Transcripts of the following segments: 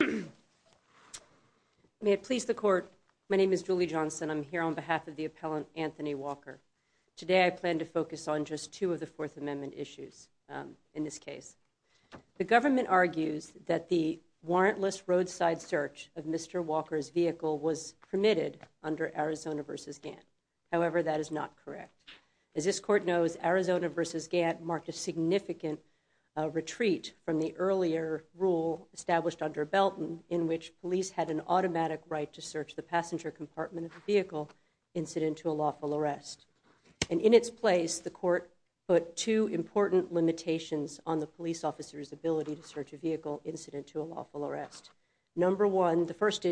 May it please the court, my name is Julie Johnson. I'm here on behalf of the appellant Anthony Walker. Today I plan to focus on just two of the Fourth Amendment issues in this case. The government argues that the warrantless roadside search of Mr. Walker's vehicle was permitted under Arizona v. Gantt. However, that is not correct. As this court knows, Arizona v. Gantt marked a in which police had an automatic right to search the passenger compartment of the vehicle incident to a lawful arrest. And in its place, the court put two important limitations on the police officer's ability to search a vehicle incident to a lawful arrest. Number one, the first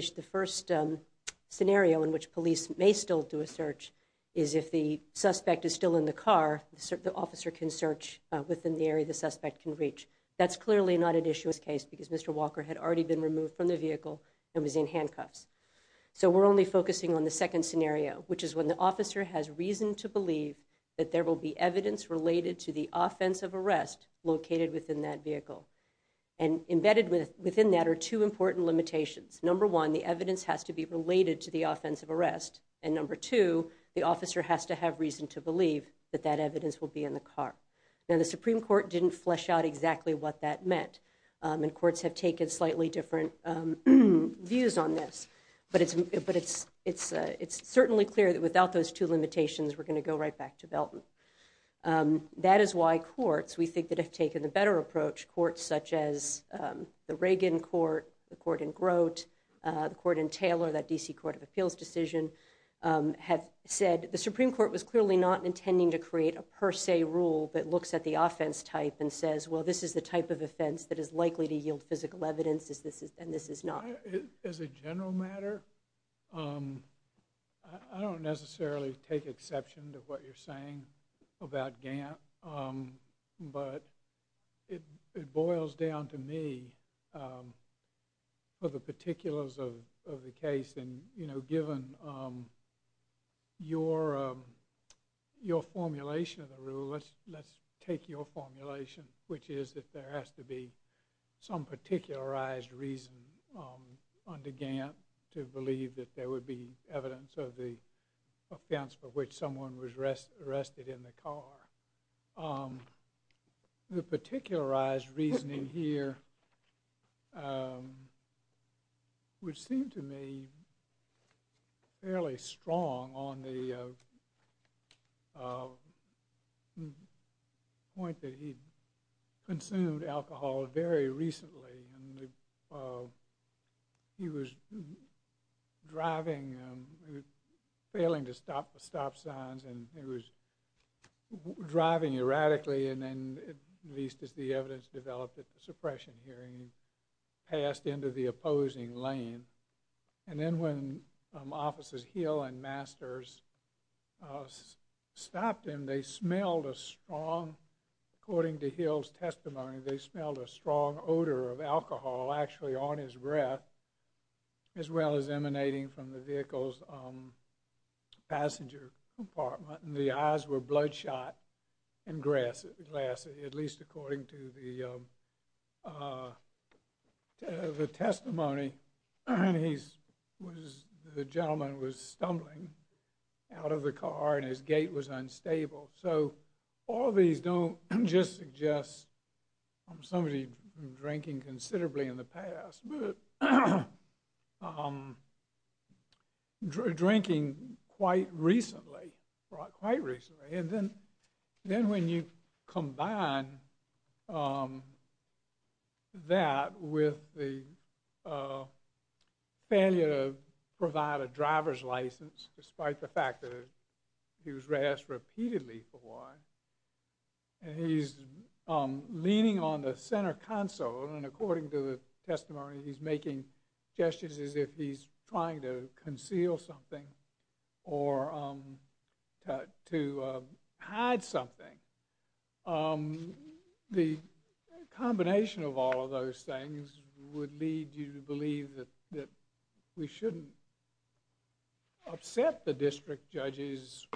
scenario in which police may still do a search is if the suspect is still in the car, the officer can search within the area the suspect can reach. That's clearly not an case because Mr. Walker had already been removed from the vehicle and was in handcuffs. So we're only focusing on the second scenario, which is when the officer has reason to believe that there will be evidence related to the offensive arrest located within that vehicle. And embedded within that are two important limitations. Number one, the evidence has to be related to the offensive arrest. And number two, the officer has to have reason to believe that that evidence will be in the car. Now the Supreme Court didn't flesh out exactly what that meant. And courts have taken slightly different views on this. But it's certainly clear that without those two limitations, we're going to go right back to Belton. That is why courts, we think that have taken a better approach, courts such as the Reagan court, the court in Grote, the court in Taylor, that DC Court of Appeals decision, have said the Supreme Court was clearly not intending to create a per se rule that looks at the offense type and says, well this is the type of offense that is likely to yield physical evidence, and this is not. As a general matter, I don't necessarily take exception to what you're saying about Gantt, but it boils down to me for the particulars of the case. And you know, given your formulation, which is that there has to be some particularized reason under Gantt to believe that there would be evidence of the offense for which someone was arrested in the car. The particularized reasoning here would seem to me fairly strong on the point that he consumed alcohol very recently, and he was driving, failing to stop the stop signs, and he was driving erratically, and then, at least as the evidence developed at the suppression hearing, he passed into the opposing lane. And then when Officers Hill and Masters stopped him, they smelled a strong, according to Hill's testimony, they smelled a strong odor of alcohol actually on his breath, as well as emanating from the vehicle's passenger compartment, and the eyes were bloodshot and glassy, at least according to the testimony. The gentleman was stumbling out of the car, and his gait was unstable. So all these don't just suggest somebody drinking considerably in the past, but drinking quite recently, quite that with the failure to provide a driver's license, despite the fact that he was razzed repeatedly for a while, and he's leaning on the center console, and according to the testimony, he's making gestures as if he's trying to conceal something or to hide something. The combination of all of those things would lead you to believe that we shouldn't upset the district judges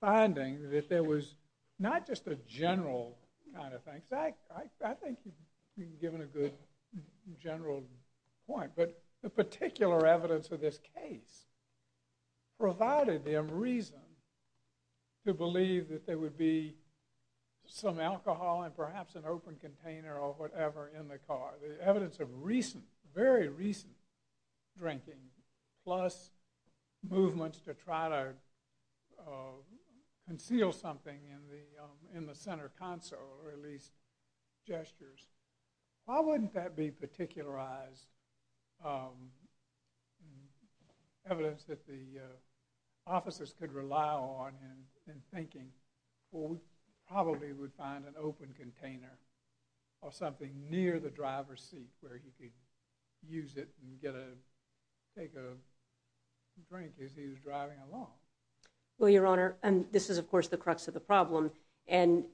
finding that there was not just a general kind of thing. I think you've given a good general point, but the particular evidence of this case provided them reason to believe that there would be some alcohol and perhaps an open container or whatever in the car. The evidence of recent, very recent drinking, plus movements to try to conceal something in the center console, or at least, wouldn't that be particularized evidence that the officers could rely on in thinking, well, we probably would find an open container or something near the driver's seat where he could use it and get a drink as he was driving along? Well, Your Honor, and this is of course the crux of the problem, and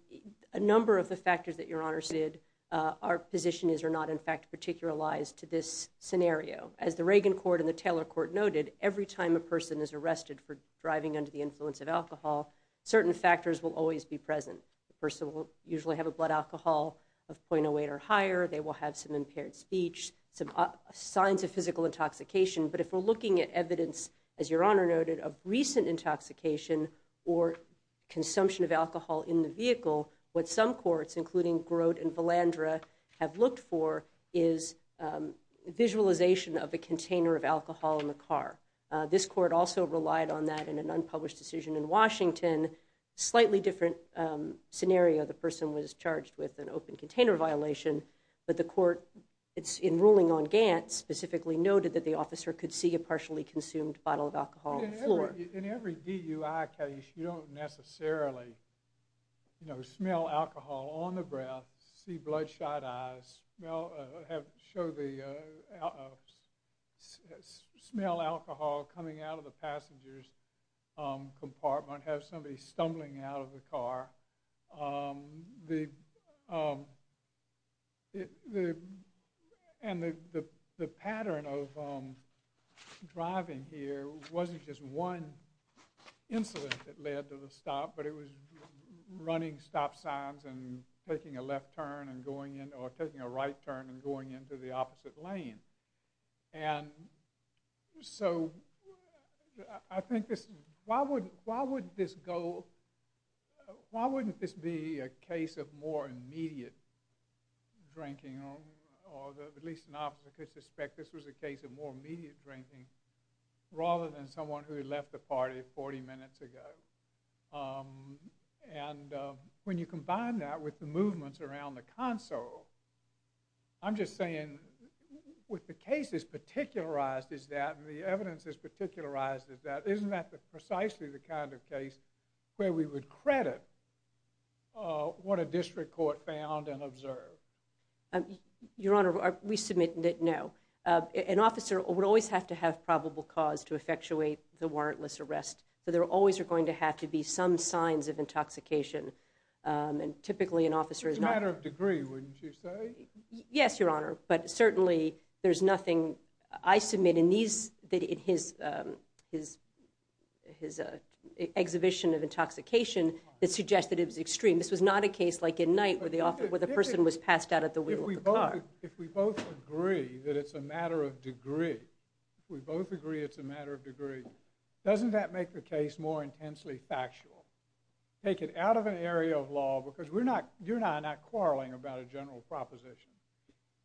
a number of the factors that Your Honor said our position is are not in fact particularized to this scenario. As the Reagan court and the Taylor court noted, every time a person is arrested for driving under the influence of alcohol, certain factors will always be present. The person will usually have a blood alcohol of 0.08 or higher, they will have some impaired speech, some signs of physical intoxication, but if we're looking at evidence, as Your Honor noted, of recent intoxication or consumption of alcohol in the vehicle, what some courts, including Grote and Valandra, have looked for is visualization of a container of alcohol in the car. This court also relied on that in an unpublished decision in Washington. Slightly different scenario, the person was charged with an open container violation, but the court, in ruling on Gantt, specifically noted that the officer could see a partially consumed bottle of alcohol before. In every DUI case, you don't necessarily, you know, smell alcohol on the breath, see bloodshot eyes, smell alcohol coming out of the passenger's compartment, have somebody stumbling out of the car. The pattern of driving here wasn't just one incident that led to the stop, but it was running stop signs and taking a left turn and going in, or taking a right turn and going into the opposite lane, and so I think this, why wouldn't this go, why wouldn't this be a case of more immediate drinking, or at least an officer could suspect this was a case of more immediate drinking, rather than someone who had left the party 40 minutes ago, and when you combine that with the movements around the console, I'm just saying, with the case as particularized as that, and the evidence as the kind of case where we would credit what a district court found and observed. Your Honor, we submit that no. An officer would always have to have probable cause to effectuate the warrantless arrest, so there always are going to have to be some signs of intoxication, and typically an officer is not. It's a matter of degree, wouldn't you say? Yes, Your Honor, but certainly there's nothing, I submit in his exhibition of intoxication, that suggests that it was extreme. This was not a case like in Knight, where the person was passed out at the wheel of the car. If we both agree that it's a matter of degree, we both agree it's a matter of degree, doesn't that make the case more intensely factual? Take it out of an area of law, because we're not, you and I are not quarreling about a general proposition.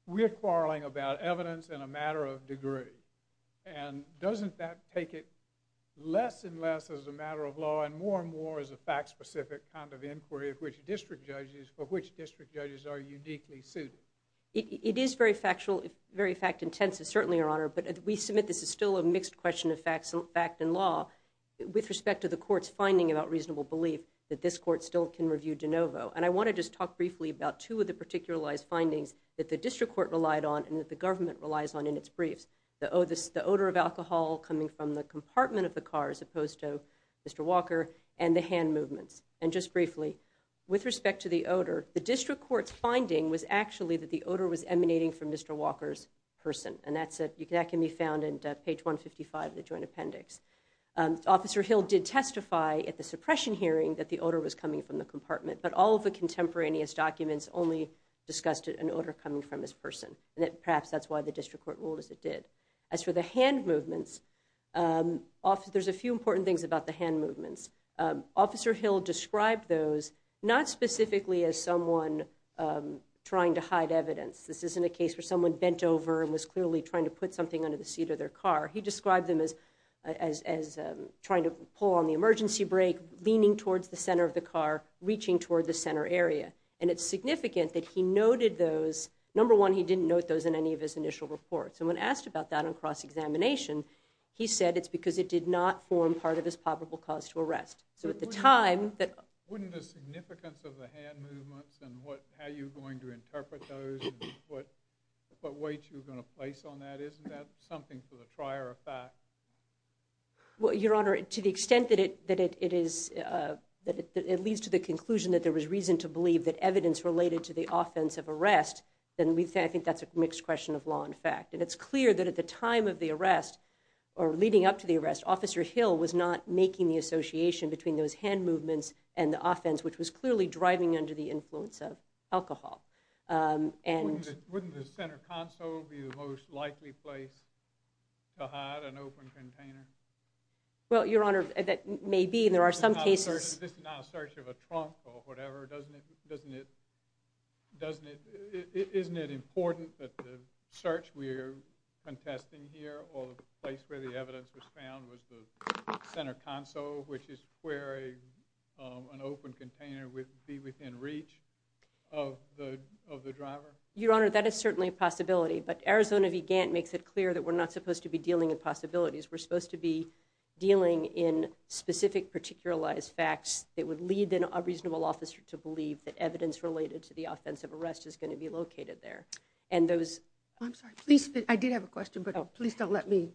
We're quarreling about evidence and a matter of degree, and doesn't that take it less and less as a matter of law, and more and more as a fact-specific kind of inquiry for which district judges are uniquely suited? It is very factual, very fact-intensive, certainly, Your Honor, but we submit this is still a mixed question of fact and law with respect to the court's finding about reasonable belief that this court still can review DeNovo, and I want to just talk briefly about two of the particularized findings that the district court relied on and that the government relies on in its briefs. The odor of alcohol coming from the compartment of the car, as opposed to Mr. Walker, and the hand movements. And just briefly, with respect to the odor, the district court's finding was actually that the odor was emanating from Mr. Walker's person, and that can be found in page 155 of the Joint Appendix. Officer Hill did testify at the suppression hearing that the odor was coming from the compartment, but all of the contemporaneous documents only discussed an odor coming from his person, and perhaps that's why the district court ruled as it did. As for the hand movements, there's a few important things about the hand movements. Officer Hill described those not specifically as someone trying to hide evidence. This isn't a case where someone bent over and was clearly trying to put something under the seat of their car. He described them as trying to pull on the center of the car, reaching toward the center area. And it's significant that he noted those. Number one, he didn't note those in any of his initial reports. And when asked about that on cross-examination, he said it's because it did not form part of his probable cause to arrest. So at the time, that wouldn't the significance of the hand movements and how you're going to interpret those, what weight you're going to place on that, isn't that something for the It leads to the conclusion that there was reason to believe that evidence related to the offense of arrest, then I think that's a mixed question of law and fact. And it's clear that at the time of the arrest, or leading up to the arrest, Officer Hill was not making the association between those hand movements and the offense, which was clearly driving under the influence of alcohol. Wouldn't the center console be the most likely place to hide an open container? Well, Your Honor, that may be, and there are some cases. This is not a search of a trunk or whatever, doesn't it, doesn't it, doesn't it, isn't it important that the search we're contesting here, or the place where the evidence was found, was the center console, which is where an open container would be within reach of the driver? Your Honor, that is certainly a possibility, but Arizona v. Gantt makes it clear that we're not supposed to be dealing with possibilities. We're supposed to be dealing in specific, particularized facts that would lead a reasonable officer to believe that evidence related to the offense of arrest is going to be located there. I'm sorry, please, I did have a question, but please don't let me,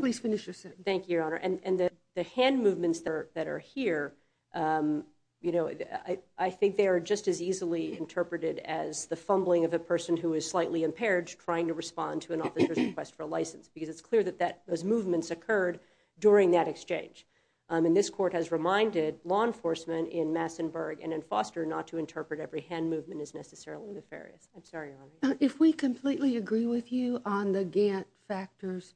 please finish your sentence. Thank you, Your Honor, and the hand movements that are here, you know, I think they are just as easily interpreted as the fumbling of a person who is slightly impaired trying to respond to an officer's request for a license. Because it's clear that those movements occurred during that exchange. And this court has reminded law enforcement in Massenburg and in Foster not to interpret every hand movement as necessarily nefarious. I'm sorry, Your Honor. If we completely agree with you on the Gantt factors,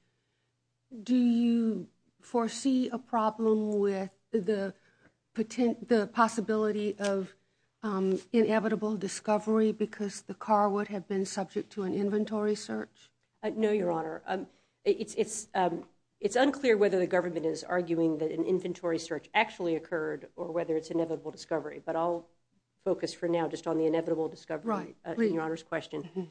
do you foresee a problem with the possibility of inevitable discovery because the car would have been subject to an inventory search? No, Your Honor. It's unclear whether the government is arguing that an inventory search actually occurred or whether it's inevitable discovery, but I'll focus for now just on the inevitable discovery in Your Honor's question.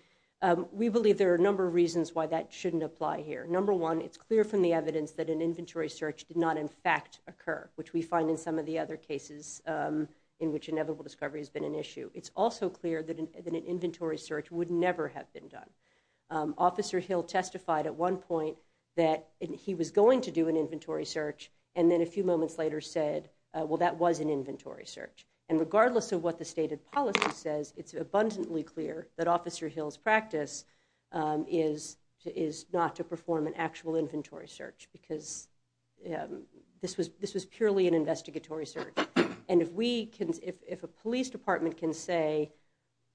We believe there are a number of reasons why that shouldn't apply here. Number one, it's clear from the evidence that an inventory search did not in fact occur, which we find in some of the other cases in which inevitable discovery has been an issue. It's also clear that an inventory search would never have been done. Officer Hill testified at one point that he was going to do an inventory search and then a few moments later said, well, that was an inventory search. And regardless of what the stated policy says, it's abundantly clear that Officer Hill's practice is not to perform an actual inventory search because this was purely an investigatory search. And if a police department can say,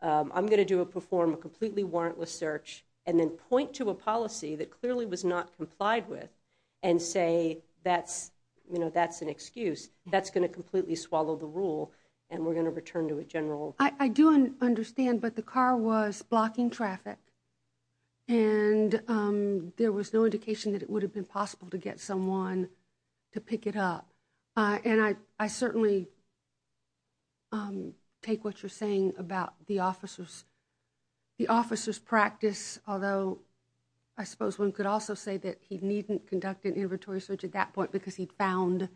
I'm going to perform a completely warrantless search and then point to a policy that clearly was not complied with and say that's an excuse, that's going to completely swallow the rule and we're going to return to a general. I do understand, but the car was blocking traffic and there was no indication that it would have been possible to get someone to pick it up. And I certainly take what you're saying about the officer's practice, although I suppose one could also say that he needn't conduct an inventory search at that point because he'd found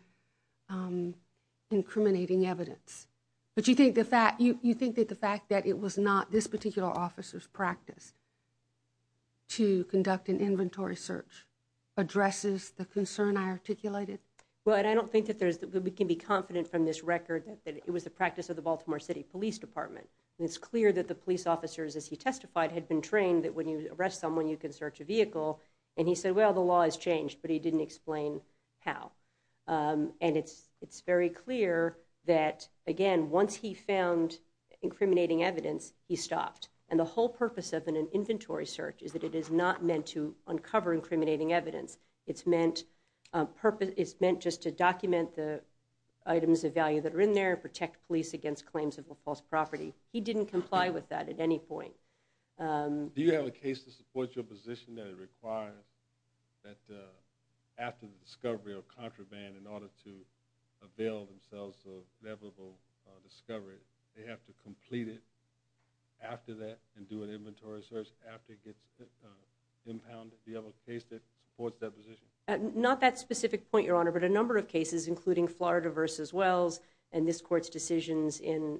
incriminating evidence. But you think that the fact that it was not this particular officer's practice to conduct an inventory search addresses the concern I articulated? Well, I don't think that we can be confident from this record that it was the practice of the Baltimore City Police Department. And it's clear that the police officers, as he testified, had been trained that when you arrest someone, you can search a vehicle. And he said, well, the law has changed, but he didn't explain how. And it's very clear that, again, once he found incriminating evidence, he stopped. And the whole purpose of an inventory search is that it is not meant to uncover incriminating evidence. It's meant just to document the items of value that are in there, protect police against claims of a false property. He didn't comply with that at any point. Do you have a case to support your position that it requires that after the discovery of contraband, in order to avail themselves of inevitable discovery, they have to complete it after that and do an inventory search after it gets impounded? Do you have a case that supports that position? Not that specific point, Your Honor, but a number of cases, including Florida v. Wells and this Court's decisions in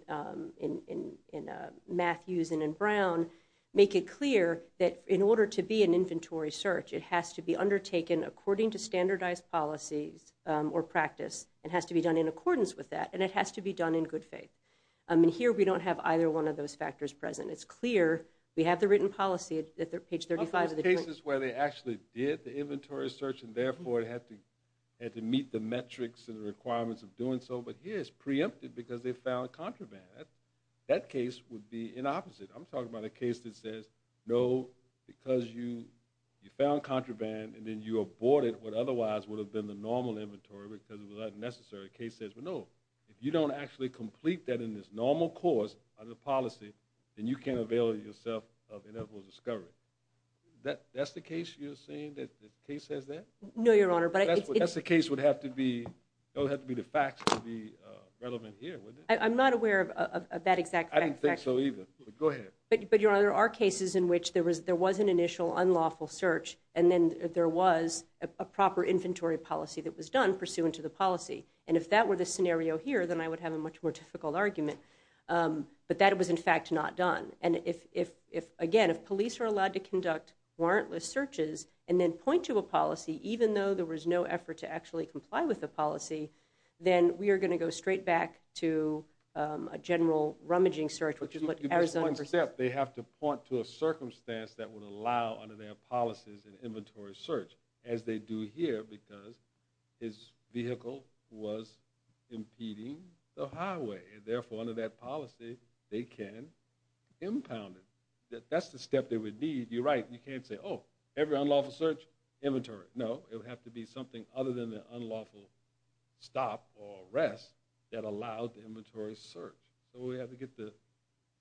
Matthews and in Brown, make it clear that in order to be an inventory search, it has to be undertaken according to standardized policies or practice. It has to be done in accordance with that, and it has to be done in good faith. And here, we don't have either one of those factors present. It's clear. We have the written policy at page 35. One of those cases where they actually did the inventory search and, therefore, had to meet the metrics and the requirements of doing so, but here it's preempted because they found contraband. That case would be the opposite. I'm talking about a case that says, no, because you found contraband and then you aborted what otherwise would have been the normal inventory because it was not necessary. The case says, well, no, if you don't actually complete that in this normal course of the policy, then you can't avail yourself of inevitable discovery. That's the case you're saying that the case says that? No, Your Honor. That's the case would have to be the facts to be relevant here, wouldn't it? I'm not aware of that exact fact. I didn't think so either, but go ahead. But, Your Honor, there are cases in which there was an initial unlawful search, and then there was a proper inventory policy that was done pursuant to the policy. And if that were the scenario here, then I would have a much more difficult argument. But that was, in fact, not done. And, again, if police are allowed to conduct warrantless searches and then point to a policy, even though there was no effort to actually comply with the policy, then we are going to go straight back to a general rummaging search, which is what Arizona... But you missed one step. They have to point to a circumstance that would allow under their policies an inventory search, as they do here because his vehicle was impeding the highway. Therefore, under that policy, they can impound it. That's the step they would need. You're right. You can't say, oh, every unlawful search, inventory. No, it would have to be something other than the unlawful stop or arrest that allowed the inventory search. So we have to get the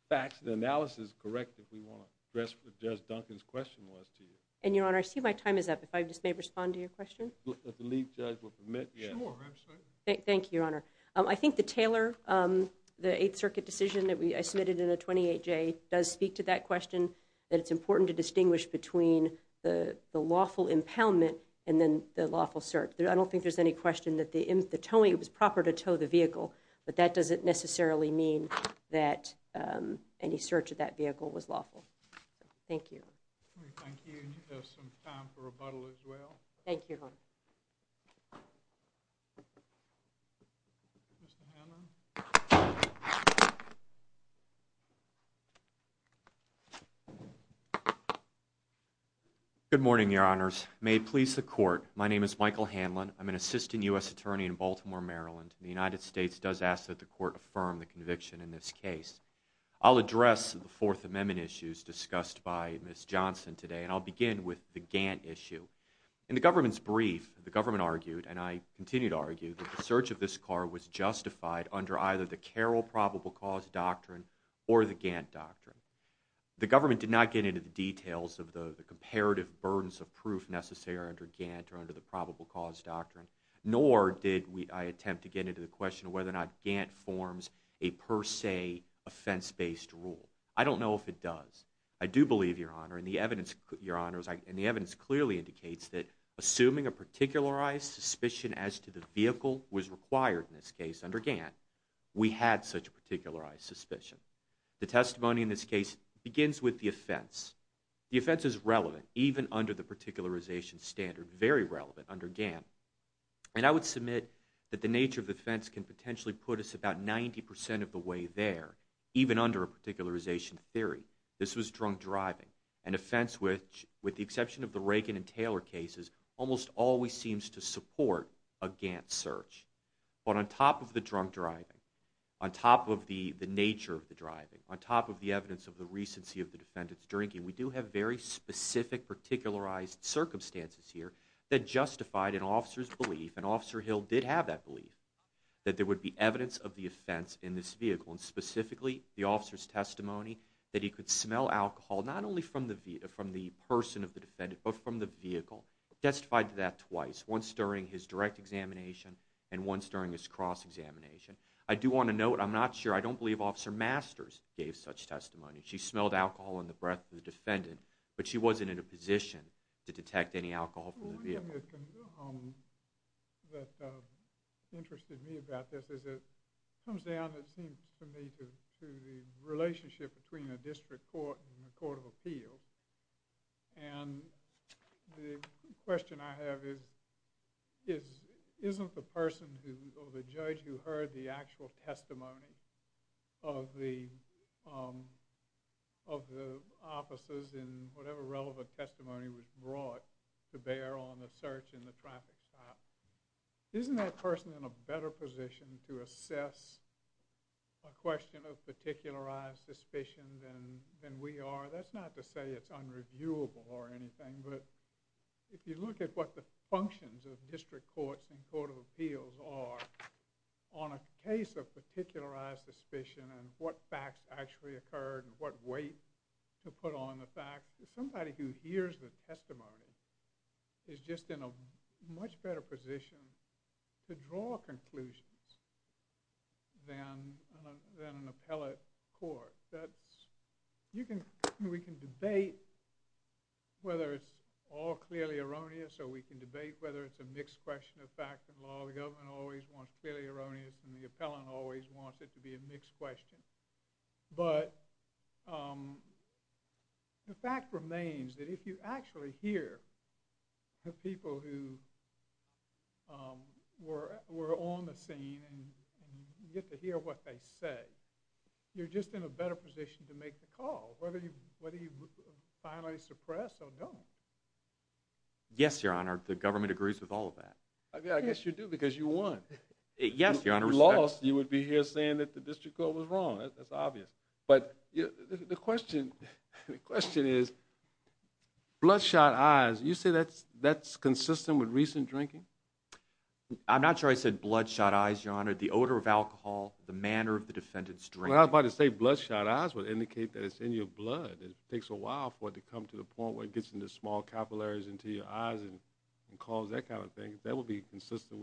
facts and analysis correct if we want to address what Judge Duncan's question was to you. And, Your Honor, I see my time is up. If I just may respond to your question? If the lead judge will permit, yes. Sure, absolutely. Thank you, Your Honor. I think the Taylor, the Eighth Circuit decision that I submitted in the 28J, does speak to that question, that it's important to distinguish between the lawful impoundment and then the lawful search. I don't think there's any question that the towing was proper to tow the vehicle, but that doesn't necessarily mean that any search of that vehicle was lawful. Thank you. Thank you. Do you have some time for rebuttal as well? Thank you, Your Honor. Mr. Hammer? Good morning, Your Honors. May it please the Court, my name is Michael Hanlon. I'm an assistant U.S. attorney in Baltimore, Maryland. The United States does ask that the Court affirm the conviction in this case. I'll address the Fourth Amendment issues discussed by Ms. Johnson today, and I'll begin with the Gantt issue. In the government's brief, the government argued, and I continue to argue, that the search of this car was justified under either the Carroll Probable Cause Doctrine or the Gantt Doctrine. The government did not get into the details of the comparative burdens of proof necessary under Gantt or under the Probable Cause Doctrine, nor did I attempt to get into the question of whether or not Gantt forms a per se offense-based rule. I don't know if it does. I do believe, Your Honor, and the evidence clearly indicates that assuming a particularized suspicion as to the vehicle was required in this case under Gantt, we had such a particularized suspicion. The testimony in this case begins with the offense. The offense is relevant, even under the particularization standard, very relevant under Gantt. And I would submit that the nature of the offense can potentially put us about 90% of the way there, even under a particularization theory. This was drunk driving, an offense which, with the exception of the Reagan and Taylor cases, almost always seems to support a Gantt search. But on top of the drunk driving, on top of the nature of the driving, on top of the evidence of the recency of the defendant's drinking, we do have very specific particularized circumstances here that justified an officer's belief, and Officer Hill did have that belief, that there would be evidence of the offense in this vehicle, and specifically the officer's testimony that he could smell alcohol not only from the person of the defendant but from the vehicle, testified to that twice, once during his direct examination and once during his cross-examination. I do want to note, I'm not sure, I don't believe Officer Masters gave such testimony. She smelled alcohol in the breath of the defendant, but she wasn't in a position to detect any alcohol from the vehicle. One thing that interested me about this is it comes down, it seems to me, to the relationship between a district court and a court of appeals. And the question I have is, isn't the person or the judge who heard the actual testimony of the officers in whatever relevant testimony was brought to bear on the search in the traffic stop, isn't that person in a better position to assess a question of particularized suspicion than we are? That's not to say it's unreviewable or anything, but if you look at what the functions of district courts and court of appeals are on a case of particularized suspicion and what facts actually occurred and what weight to put on the facts, somebody who hears the testimony is just in a much better position to draw conclusions than an appellate court. We can debate whether it's all clearly erroneous, or we can debate whether it's a mixed question of fact and law. The government always wants clearly erroneous, and the appellant always wants it to be a mixed question. But the fact remains that if you actually hear the people who were on the scene and you get to hear what they say, you're just in a better position to make the call, whether you finally suppress or don't. Yes, Your Honor, the government agrees with all of that. I guess you do, because you won. Yes, Your Honor. If you lost, you would be here saying that the district court was wrong. That's obvious. But the question is, bloodshot eyes, you say that's consistent with recent drinking? I'm not sure I said bloodshot eyes, Your Honor. The odor of alcohol, the manner of the defendant's drinking. Well, I was about to say bloodshot eyes would indicate that it's in your blood. It takes a while for it to come to the point where it gets into small capillaries into your eyes and cause that kind of thing. That would be consistent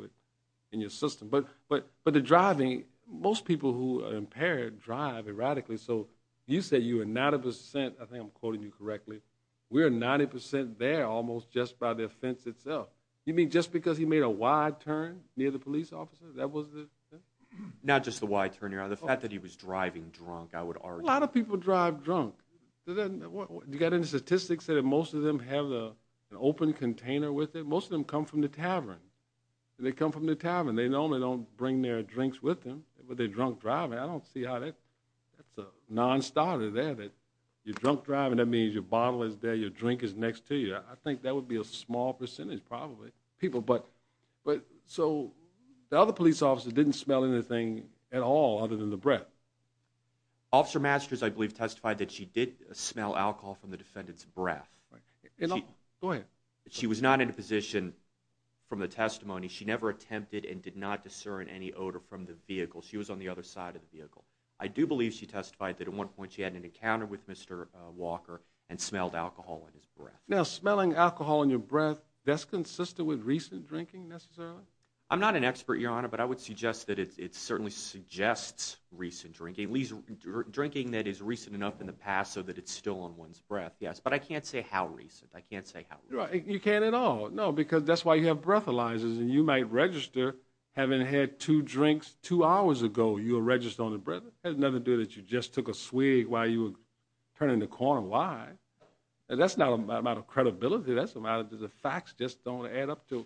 in your system. But the driving, most people who are impaired drive erratically. So you said you were 90 percent. I think I'm quoting you correctly. We're 90 percent there almost just by the offense itself. You mean just because he made a wide turn near the police officer? That was it? Not just the wide turn, Your Honor. The fact that he was driving drunk, I would argue. A lot of people drive drunk. You got any statistics that most of them have an open container with them? Most of them come from the tavern. They come from the tavern. They normally don't bring their drinks with them. But they're drunk driving. I don't see how that's a non-starter there. You're drunk driving, that means your bottle is there, your drink is next to you. I think that would be a small percentage probably. So the other police officer didn't smell anything at all other than the breath. Officer Masters, I believe, testified that she did smell alcohol from the defendant's breath. Go ahead. She was not in a position from the testimony. She never attempted and did not discern any odor from the vehicle. She was on the other side of the vehicle. I do believe she testified that at one point she had an encounter with Mr. Walker and smelled alcohol in his breath. Now, smelling alcohol in your breath, that's consistent with recent drinking necessarily? I'm not an expert, Your Honor, but I would suggest that it certainly suggests recent drinking. At least drinking that is recent enough in the past so that it's still in one's breath, yes. But I can't say how recent. I can't say how recent. You can't at all. No, because that's why you have breathalyzers. And you might register having had two drinks two hours ago. You'll register on the breath. It has nothing to do that you just took a swig while you were turning the corner. Why? That's not a matter of credibility. The facts just don't add up to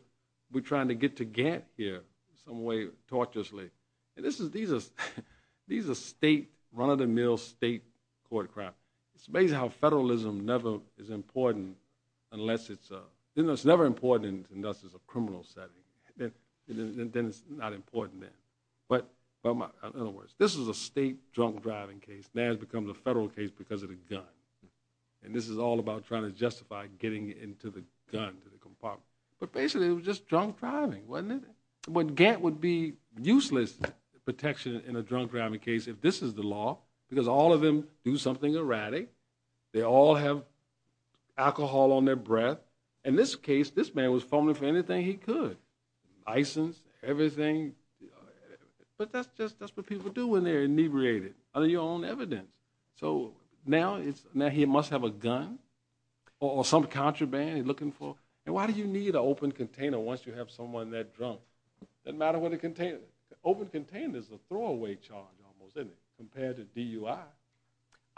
we're trying to get to Gantt here in some way torturously. These are state, run-of-the-mill state court crimes. It's amazing how federalism never is important unless it's a criminal setting. Then it's not important then. In other words, this is a state drunk driving case. Now it becomes a federal case because of the gun. And this is all about trying to justify getting into the gun, to the compartment. But basically it was just drunk driving, wasn't it? Gantt would be useless protection in a drunk driving case if this is the law because all of them do something erratic. They all have alcohol on their breath. In this case, this man was fumbling for anything he could. License, everything. But that's what people do when they're inebriated under your own evidence. So now he must have a gun or some contraband he's looking for. And why do you need an open container once you have someone that drunk? Doesn't matter what a container. An open container is a throwaway charge almost, isn't it, compared to DUI.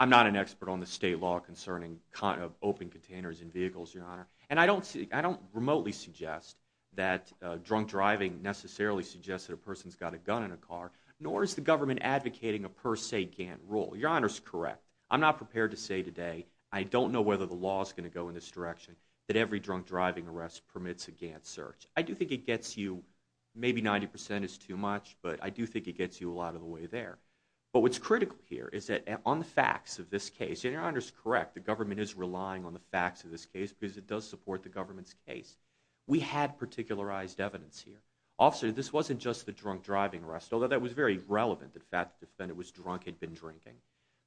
I'm not an expert on the state law concerning open containers in vehicles, Your Honor. And I don't remotely suggest that drunk driving necessarily suggests that a person's got a gun in a car, nor is the government advocating a per se Gantt rule. Your Honor's correct. I'm not prepared to say today, I don't know whether the law's going to go in this direction, that every drunk driving arrest permits a Gantt search. I do think it gets you, maybe 90% is too much, but I do think it gets you a lot of the way there. But what's critical here is that on the facts of this case, and Your Honor's correct, the government is relying on the facts of this case because it does support the government's case, we had particularized evidence here. Officer, this wasn't just the drunk driving arrest, although that was very relevant. In fact, the defendant was drunk and had been drinking.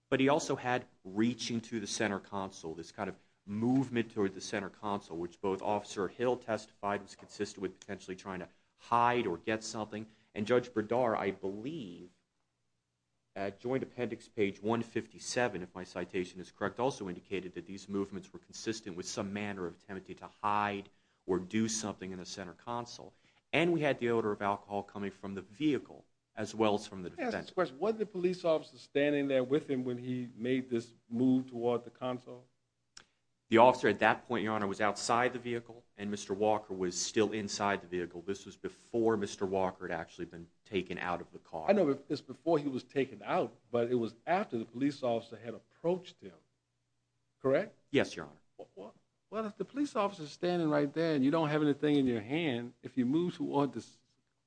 But he also had reaching to the center console, this kind of movement toward the center console, which both Officer Hill testified was consistent with potentially trying to hide or get something. And Judge Bredar, I believe, at Joint Appendix page 157, if my citation is correct, also indicated that these movements were consistent with some manner of attempting to hide or do something in the center console. And we had the odor of alcohol coming from the vehicle as well as from the defendant. I have a question. Was the police officer standing there with him when he made this move toward the console? The officer at that point, Your Honor, was outside the vehicle, and Mr. Walker was still inside the vehicle. This was before Mr. Walker had actually been taken out of the car. I know it was before he was taken out, but it was after the police officer had approached him. Correct? Yes, Your Honor. Well, if the police officer is standing right there and you don't have anything in your hand, if you move toward the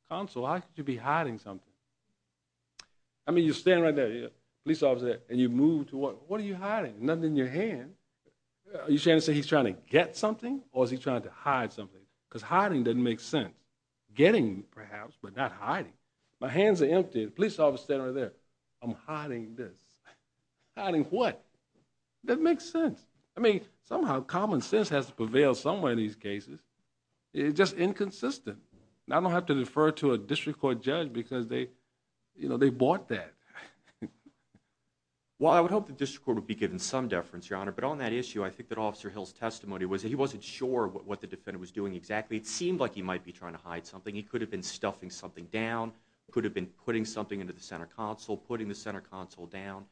console, how could you be hiding something? I mean, you're standing right there, police officer, and you move toward it. What are you hiding? Nothing in your hand. Are you trying to say he's trying to get something or is he trying to hide something? Because hiding doesn't make sense. Getting, perhaps, but not hiding. My hands are empty. The police officer is standing right there. I'm hiding this. Hiding what? It doesn't make sense. I mean, somehow common sense has to prevail somewhere in these cases. It's just inconsistent. And I don't have to refer to a district court judge because they bought that. Well, I would hope the district court would be given some deference, Your Honor, but on that issue, I think that Officer Hill's testimony was that he wasn't sure what the defendant was doing exactly. It seemed like he might be trying to hide something. He could have been stuffing something down, could have been putting something into the center console, putting the center console down.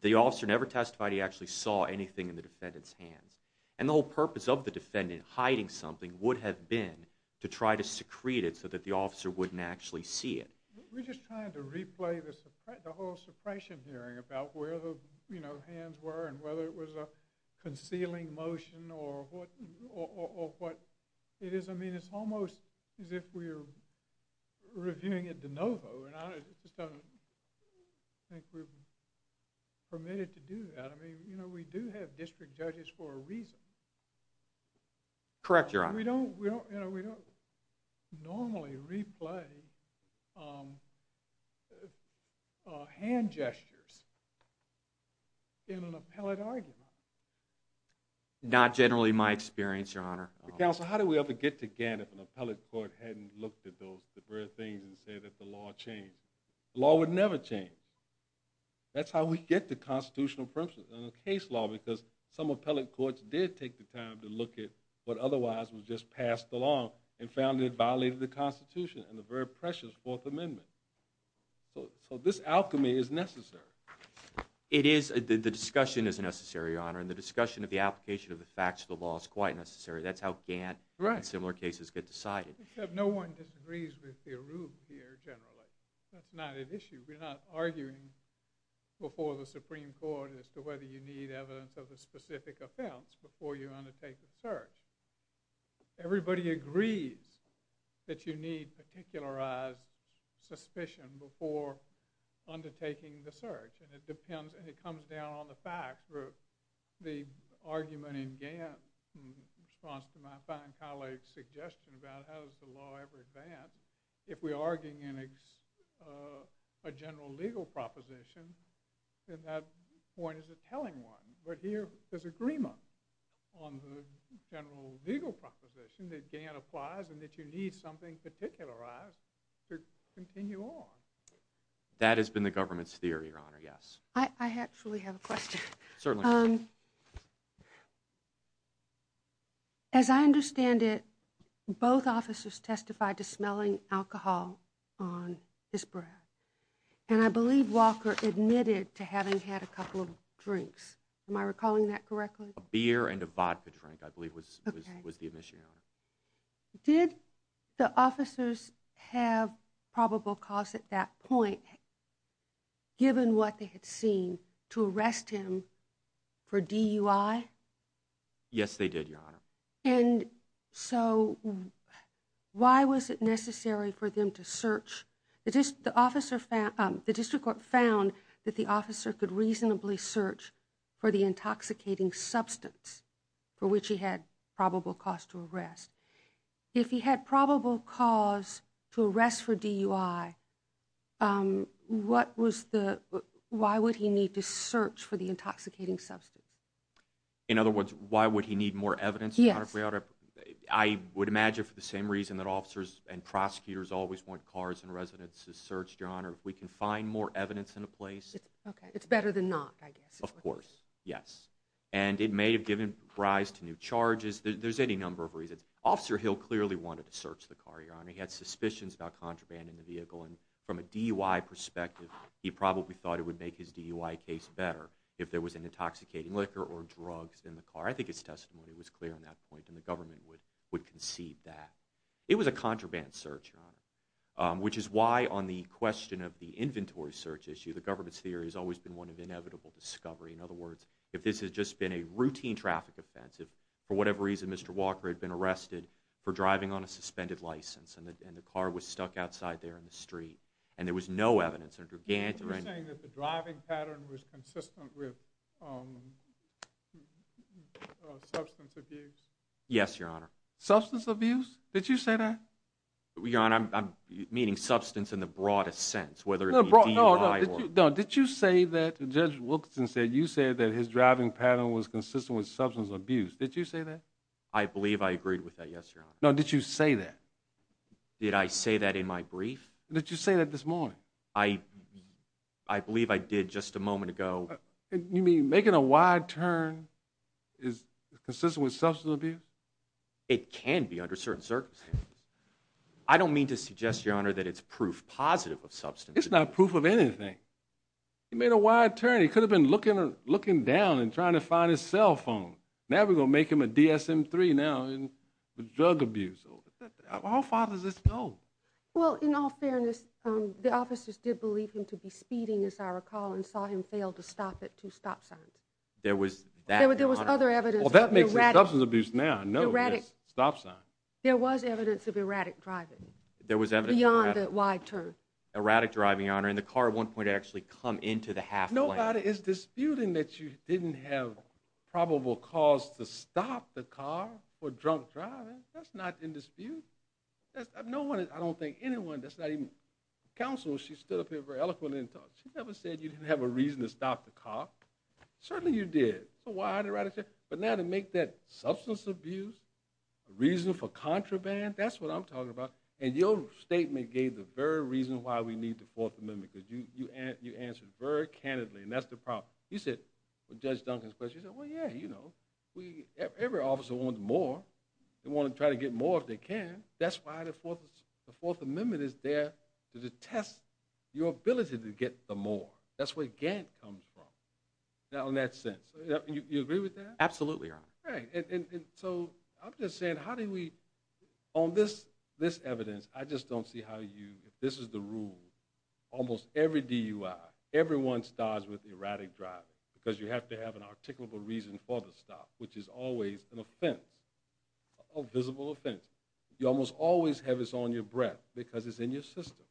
The officer never testified he actually saw anything in the defendant's hands. And the whole purpose of the defendant hiding something would have been to try to secrete it so that the officer wouldn't actually see it. We're just trying to replay the whole suppression hearing about where the hands were and whether it was a concealing motion or what it is. I mean, it's almost as if we're reviewing a de novo, and I just don't think we're permitted to do that. I mean, you know, we do have district judges for a reason. Correct, Your Honor. We don't normally replay hand gestures in an appellate argument. Not generally my experience, Your Honor. Counsel, how do we ever get to Gannett if an appellate court hadn't looked at those things and said that the law changed? The law would never change. That's how we get to constitutional principles and the case law because some appellate courts did take the time to look at what otherwise was just passed along and found it violated the Constitution and the very precious Fourth Amendment. So this alchemy is necessary. It is. The discussion is necessary, Your Honor, and the discussion of the application of the facts of the law is quite necessary. That's how Gantt and similar cases get decided. Except no one disagrees with the Arub here generally. That's not an issue. We're not arguing before the Supreme Court as to whether you need evidence of a specific offense before you undertake the search. Everybody agrees that you need particularized suspicion before undertaking the search, and it depends and it comes down on the facts. The argument in Gantt in response to my fine colleague's suggestion about how does the law ever advance, if we're arguing in a general legal proposition, then that point is a telling one. But here there's agreement on the general legal proposition that Gantt applies and that you need something particularized to continue on. That has been the government's theory, Your Honor, yes. I actually have a question. Certainly. As I understand it, both officers testified to smelling alcohol on his breath, and I believe Walker admitted to having had a couple of drinks. Am I recalling that correctly? A beer and a vodka drink, I believe, was the admission, Your Honor. Did the officers have probable cause at that point, given what they had seen, to arrest him for DUI? Yes, they did, Your Honor. And so why was it necessary for them to search? The district court found that the officer could reasonably search for the intoxicating substance for which he had probable cause to arrest. If he had probable cause to arrest for DUI, why would he need to search for the intoxicating substance? In other words, why would he need more evidence, Your Honor? Officers always want cars and residences searched, Your Honor. If we can find more evidence in a place... Okay, it's better than not, I guess. Of course, yes. And it may have given rise to new charges. There's any number of reasons. Officer Hill clearly wanted to search the car, Your Honor. He had suspicions about contraband in the vehicle, and from a DUI perspective, he probably thought it would make his DUI case better if there was an intoxicating liquor or drugs in the car. I think his testimony was clear on that point, and the government would concede that. It was a contraband search, Your Honor, which is why, on the question of the inventory search issue, the government's theory has always been one of inevitable discovery. In other words, if this had just been a routine traffic offense, if, for whatever reason, Mr. Walker had been arrested for driving on a suspended license and the car was stuck outside there in the street and there was no evidence... Are you saying that the driving pattern was consistent with substance abuse? Yes, Your Honor. Substance abuse? Did you say that? Your Honor, I'm meaning substance in the broadest sense, whether it be DUI or... No, did you say that, Judge Wilkinson said, you said that his driving pattern was consistent with substance abuse. Did you say that? I believe I agreed with that, yes, Your Honor. No, did you say that? Did I say that in my brief? Did you say that this morning? I believe I did just a moment ago. You mean making a wide turn is consistent with substance abuse? It can be under certain circumstances. I don't mean to suggest, Your Honor, that it's proof positive of substance abuse. It's not proof of anything. He made a wide turn. He could have been looking down and trying to find his cell phone. Now we're going to make him a DSM-III now and drug abuse. How far does this go? Well, in all fairness, the officers did believe him to be speeding, as I recall, and saw him fail to stop at two stop signs. There was that, Your Honor? There was other evidence... Well, that makes it substance abuse now. No, it's stop signs. There was evidence of erratic driving. There was evidence of erratic driving. Beyond the wide turn. Erratic driving, Your Honor, and the car at one point actually come into the half lane. Nobody is disputing that you didn't have probable cause to stop the car for drunk driving. That's not in dispute. No one, I don't think anyone, that's not even counsel, she stood up here very eloquently and talked. She never said you didn't have a reason to stop the car. Certainly you did. But now to make that substance abuse a reason for contraband, that's what I'm talking about. And your statement gave the very reason why we need the Fourth Amendment, because you answered very candidly, and that's the problem. You said, with Judge Duncan's question, you said, well, yeah, you know, every officer wants more. They want to try to get more if they can. That's why the Fourth Amendment is there to test your ability to get the more. That's where Gantt comes from. Now, in that sense, you agree with that? Absolutely, Your Honor. Right, and so I'm just saying, how do we, on this evidence, I just don't see how you, if this is the rule, almost every DUI, everyone starts with erratic driving, because you have to have an articulable reason for the stop, which is always an offense, a visible offense. You almost always have this on your breath, because it's in your system.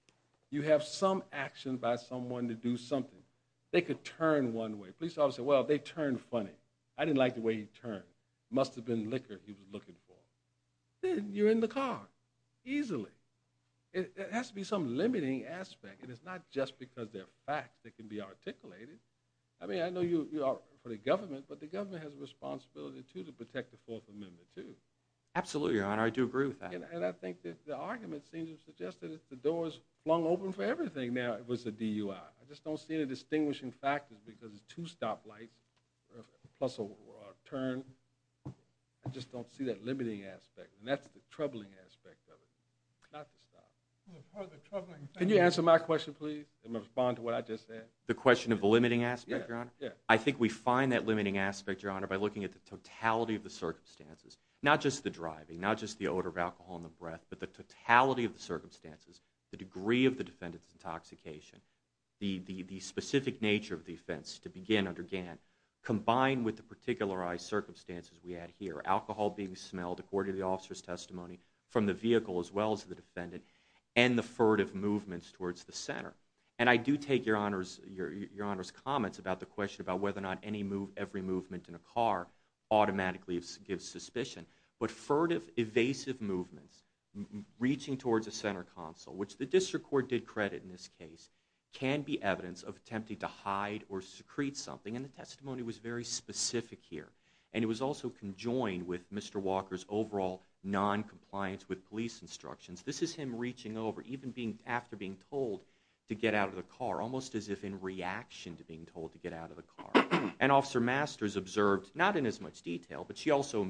You have some action by someone to do something. They could turn one way. Police officer said, well, they turned funny. I didn't like the way he turned. Must have been liquor he was looking for. Then you're in the car, easily. It has to be some limiting aspect, and it's not just because they're facts that can be articulated. I mean, I know you are for the government, but the government has a responsibility, too, to protect the Fourth Amendment, too. Absolutely, Your Honor, I do agree with that. And I think that the argument seems to suggest that if the door's flung open for everything, now it was a DUI. I just don't see any distinguishing factors, because it's two stop lights plus a turn. I just don't see that limiting aspect, and that's the troubling aspect of it, not the stop. Can you answer my question, please, and respond to what I just said? The question of the limiting aspect, Your Honor? I think we find that limiting aspect, Your Honor, by looking at the totality of the circumstances, not just the driving, not just the odor of alcohol in the breath, but the totality of the circumstances, the degree of the defendant's intoxication, the specific nature of the offense to begin under Gant, combined with the particularized circumstances we had here, alcohol being smelled, according to the officer's testimony, from the vehicle as well as the defendant, and the furtive movements towards the center. And I do take Your Honor's comments about the question about whether or not every movement in a car automatically gives suspicion, but furtive, evasive movements, reaching towards the center console, which the district court did credit in this case, can be evidence of attempting to hide or secrete something, and the testimony was very specific here. And it was also conjoined with Mr. Walker's overall noncompliance with police instructions. This is him reaching over, even after being told to get out of the car, almost as if in reaction to being told to get out of the car. And Officer Masters observed, not in as much detail, but she also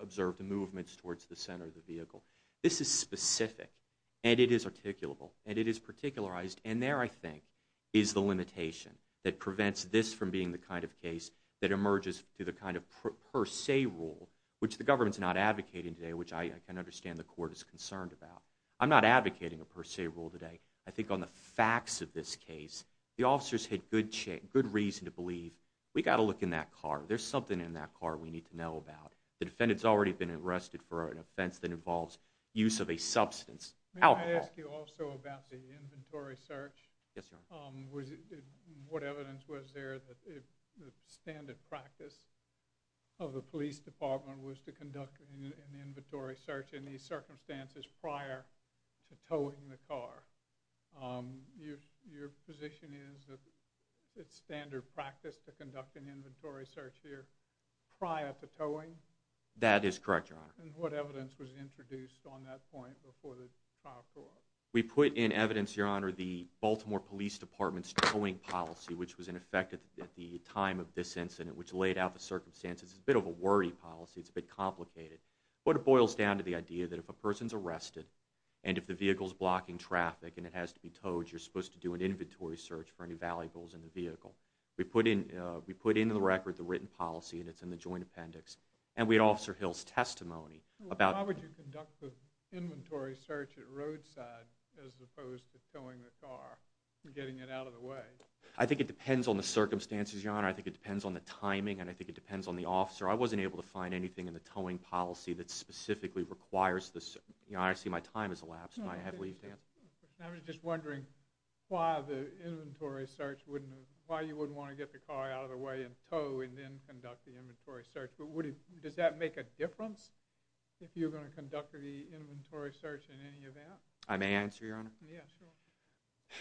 observed the movements towards the center of the vehicle. This is specific, and it is articulable, and it is particularized, and there, I think, is the limitation that prevents this from being the kind of case that emerges through the kind of per se rule, which the government's not advocating today, which I can understand the court is concerned about. I'm not advocating a per se rule today. I think on the facts of this case, the officers had good reason to believe, we've got to look in that car, there's something in that car we need to know about. The defendant's already been arrested for an offense that involves use of a substance. May I ask you also about the inventory search? Yes, Your Honor. What evidence was there that the standard practice of the police department was to conduct an inventory search in these circumstances prior to towing the car? Your position is that it's standard practice to conduct an inventory search here prior to towing? That is correct, Your Honor. And what evidence was introduced on that point before the trial brought? We put in evidence, Your Honor, the Baltimore Police Department's towing policy, which was in effect at the time of this incident, which laid out the circumstances. It's a bit of a worry policy, it's a bit complicated, but it boils down to the idea that if a person's arrested and if the vehicle's blocking traffic and it has to be towed, you're supposed to do an inventory search for any valuables in the vehicle. We put into the record the written policy, and it's in the joint appendix. And we had Officer Hill's testimony about... How would you conduct the inventory search at roadside as opposed to towing the car and getting it out of the way? I think it depends on the circumstances, Your Honor. I think it depends on the timing, and I think it depends on the officer. I wasn't able to find anything in the towing policy that specifically requires this. I see my time has elapsed. I was just wondering why the inventory search wouldn't have... Why you wouldn't want to get the car out of the way and tow and then conduct the inventory search. But does that make a difference if you're going to conduct the inventory search in any event? I may answer, Your Honor. Yeah, sure.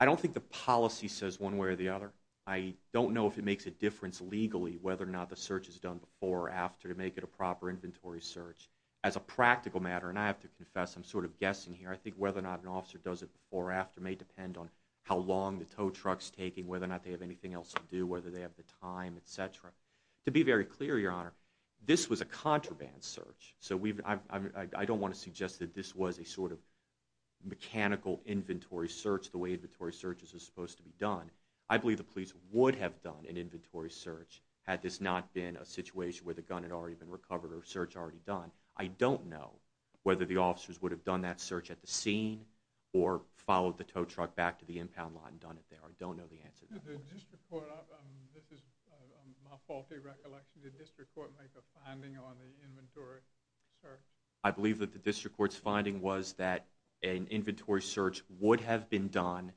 I don't think the policy says one way or the other. I don't know if it makes a difference legally whether or not the search is done before or after to make it a proper inventory search. As a practical matter, and I have to confess, I'm sort of guessing here, I think whether or not an officer does it before or after may depend on how long the tow truck's taking, whether or not they have anything else to do, whether they have the time, et cetera. To be very clear, Your Honor, this was a contraband search. So I don't want to suggest that this was a sort of mechanical inventory search the way inventory searches are supposed to be done. I believe the police would have done an inventory search had this not been a situation where the gun had already been recovered or a search already done. I don't know whether the officers would have done that search at the scene or followed the tow truck back to the impound lot and done it there. I don't know the answer to that. Did the district court... This is my faulty recollection. Did the district court make a finding on the inventory search? I believe that the district court's finding was that an inventory search would have been done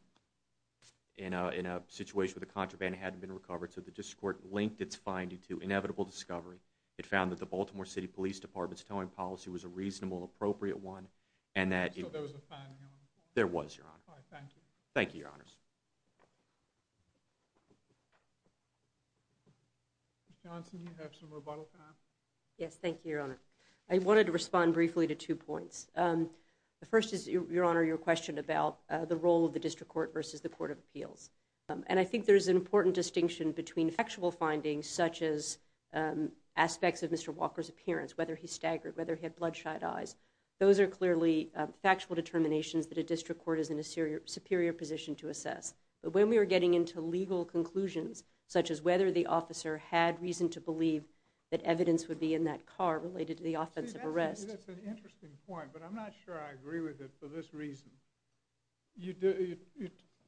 in a situation where the contraband hadn't been recovered. So the district court linked its finding to inevitable discovery. It found that the Baltimore City Police Department's towing policy was a reasonable, appropriate one, and that... I thought there was a finding on it. There was, Your Honor. All right, thank you. Thank you, Your Honors. Ms. Johnson, you have some rebuttal time. Yes, thank you, Your Honor. I wanted to respond briefly to two points. The first is, Your Honor, your question about the role of the district court versus the court of appeals. And I think there's an important distinction between factual findings, such as aspects of Mr. Walker's appearance, whether he's staggered, whether he had bloodshot eyes. Those are clearly factual determinations that a district court is in a superior position to assess. But when we are getting into legal conclusions, such as whether the officer had reason to believe that evidence would be in that car related to the offensive arrest... See, that's an interesting point, but I'm not sure I agree with it for this reason. You're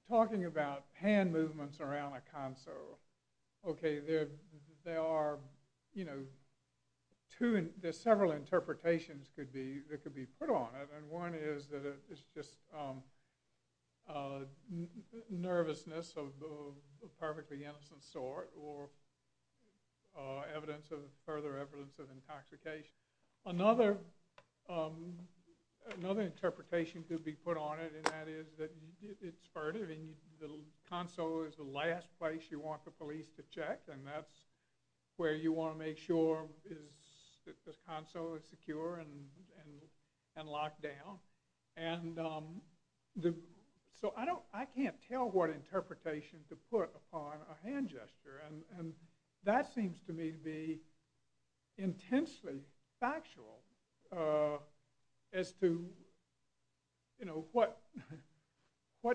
talking about hand movements around a console. Okay, there are, you know, there's several interpretations that could be put on it, and one is that it's just nervousness of a perfectly innocent sort, or further evidence of intoxication. Another interpretation could be put on it, and that is that it's furtive, and the console is the last place you want the police to check, and that's where you want to make sure that the console is secure and locked down. And so I can't tell what interpretation to put upon a hand gesture, and that seems to me to be intensely factual as to, you know, what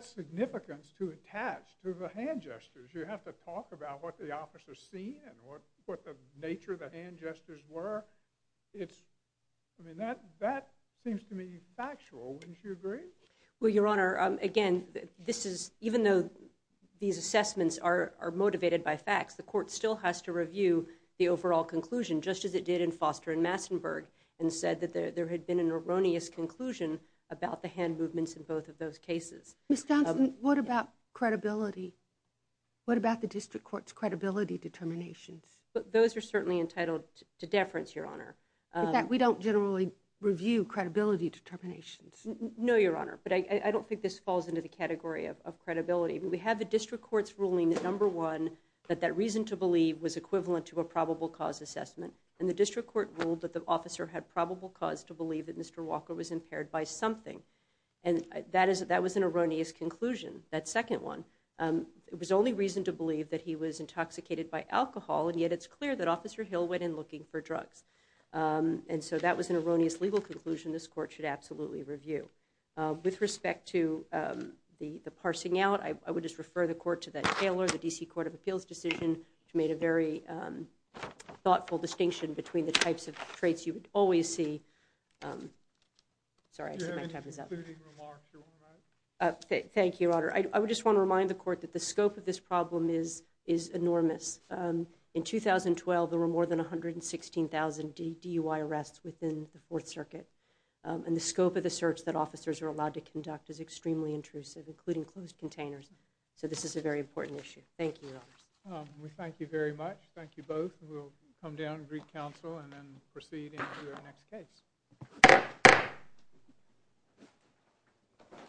significance to attach to the hand gestures. You have to talk about what the officer's seen and what the nature of the hand gestures were. I mean, that seems to me factual. Wouldn't you agree? Well, Your Honor, again, even though these assessments are motivated by facts, the court still has to review the overall conclusion, just as it did in Foster and Massenburg, and said that there had been an erroneous conclusion about the hand movements in both of those cases. Ms. Townsend, what about credibility? What about the district court's credibility determinations? Those are certainly entitled to deference, Your Honor. In fact, we don't generally review credibility determinations. No, Your Honor, but I don't think this falls into the category of credibility. We have the district court's ruling, number one, that that reason to believe was equivalent to a probable cause assessment, and the district court ruled that the officer had probable cause to believe that Mr. Walker was impaired by something, and that was an erroneous conclusion, that second one. It was the only reason to believe that he was intoxicated by alcohol, and yet it's clear that Officer Hill went in looking for drugs. And so that was an erroneous legal conclusion this court should absolutely review. With respect to the parsing out, I would just refer the court to that Taylor, the D.C. Court of Appeals decision, which made a very thoughtful distinction between the types of traits you would always see. Sorry, I think my time is up. Do you have any concluding remarks, Your Honor? Thank you, Your Honor. I just want to remind the court that the scope of this problem is enormous. In 2012, there were more than 116,000 DUI arrests within the Fourth Circuit, and the scope of the search that officers are allowed to conduct is extremely intrusive, including closed containers, so this is a very important issue. Thank you, Your Honor. We thank you very much. Thank you both. We'll come down and greet counsel and then proceed into our next case.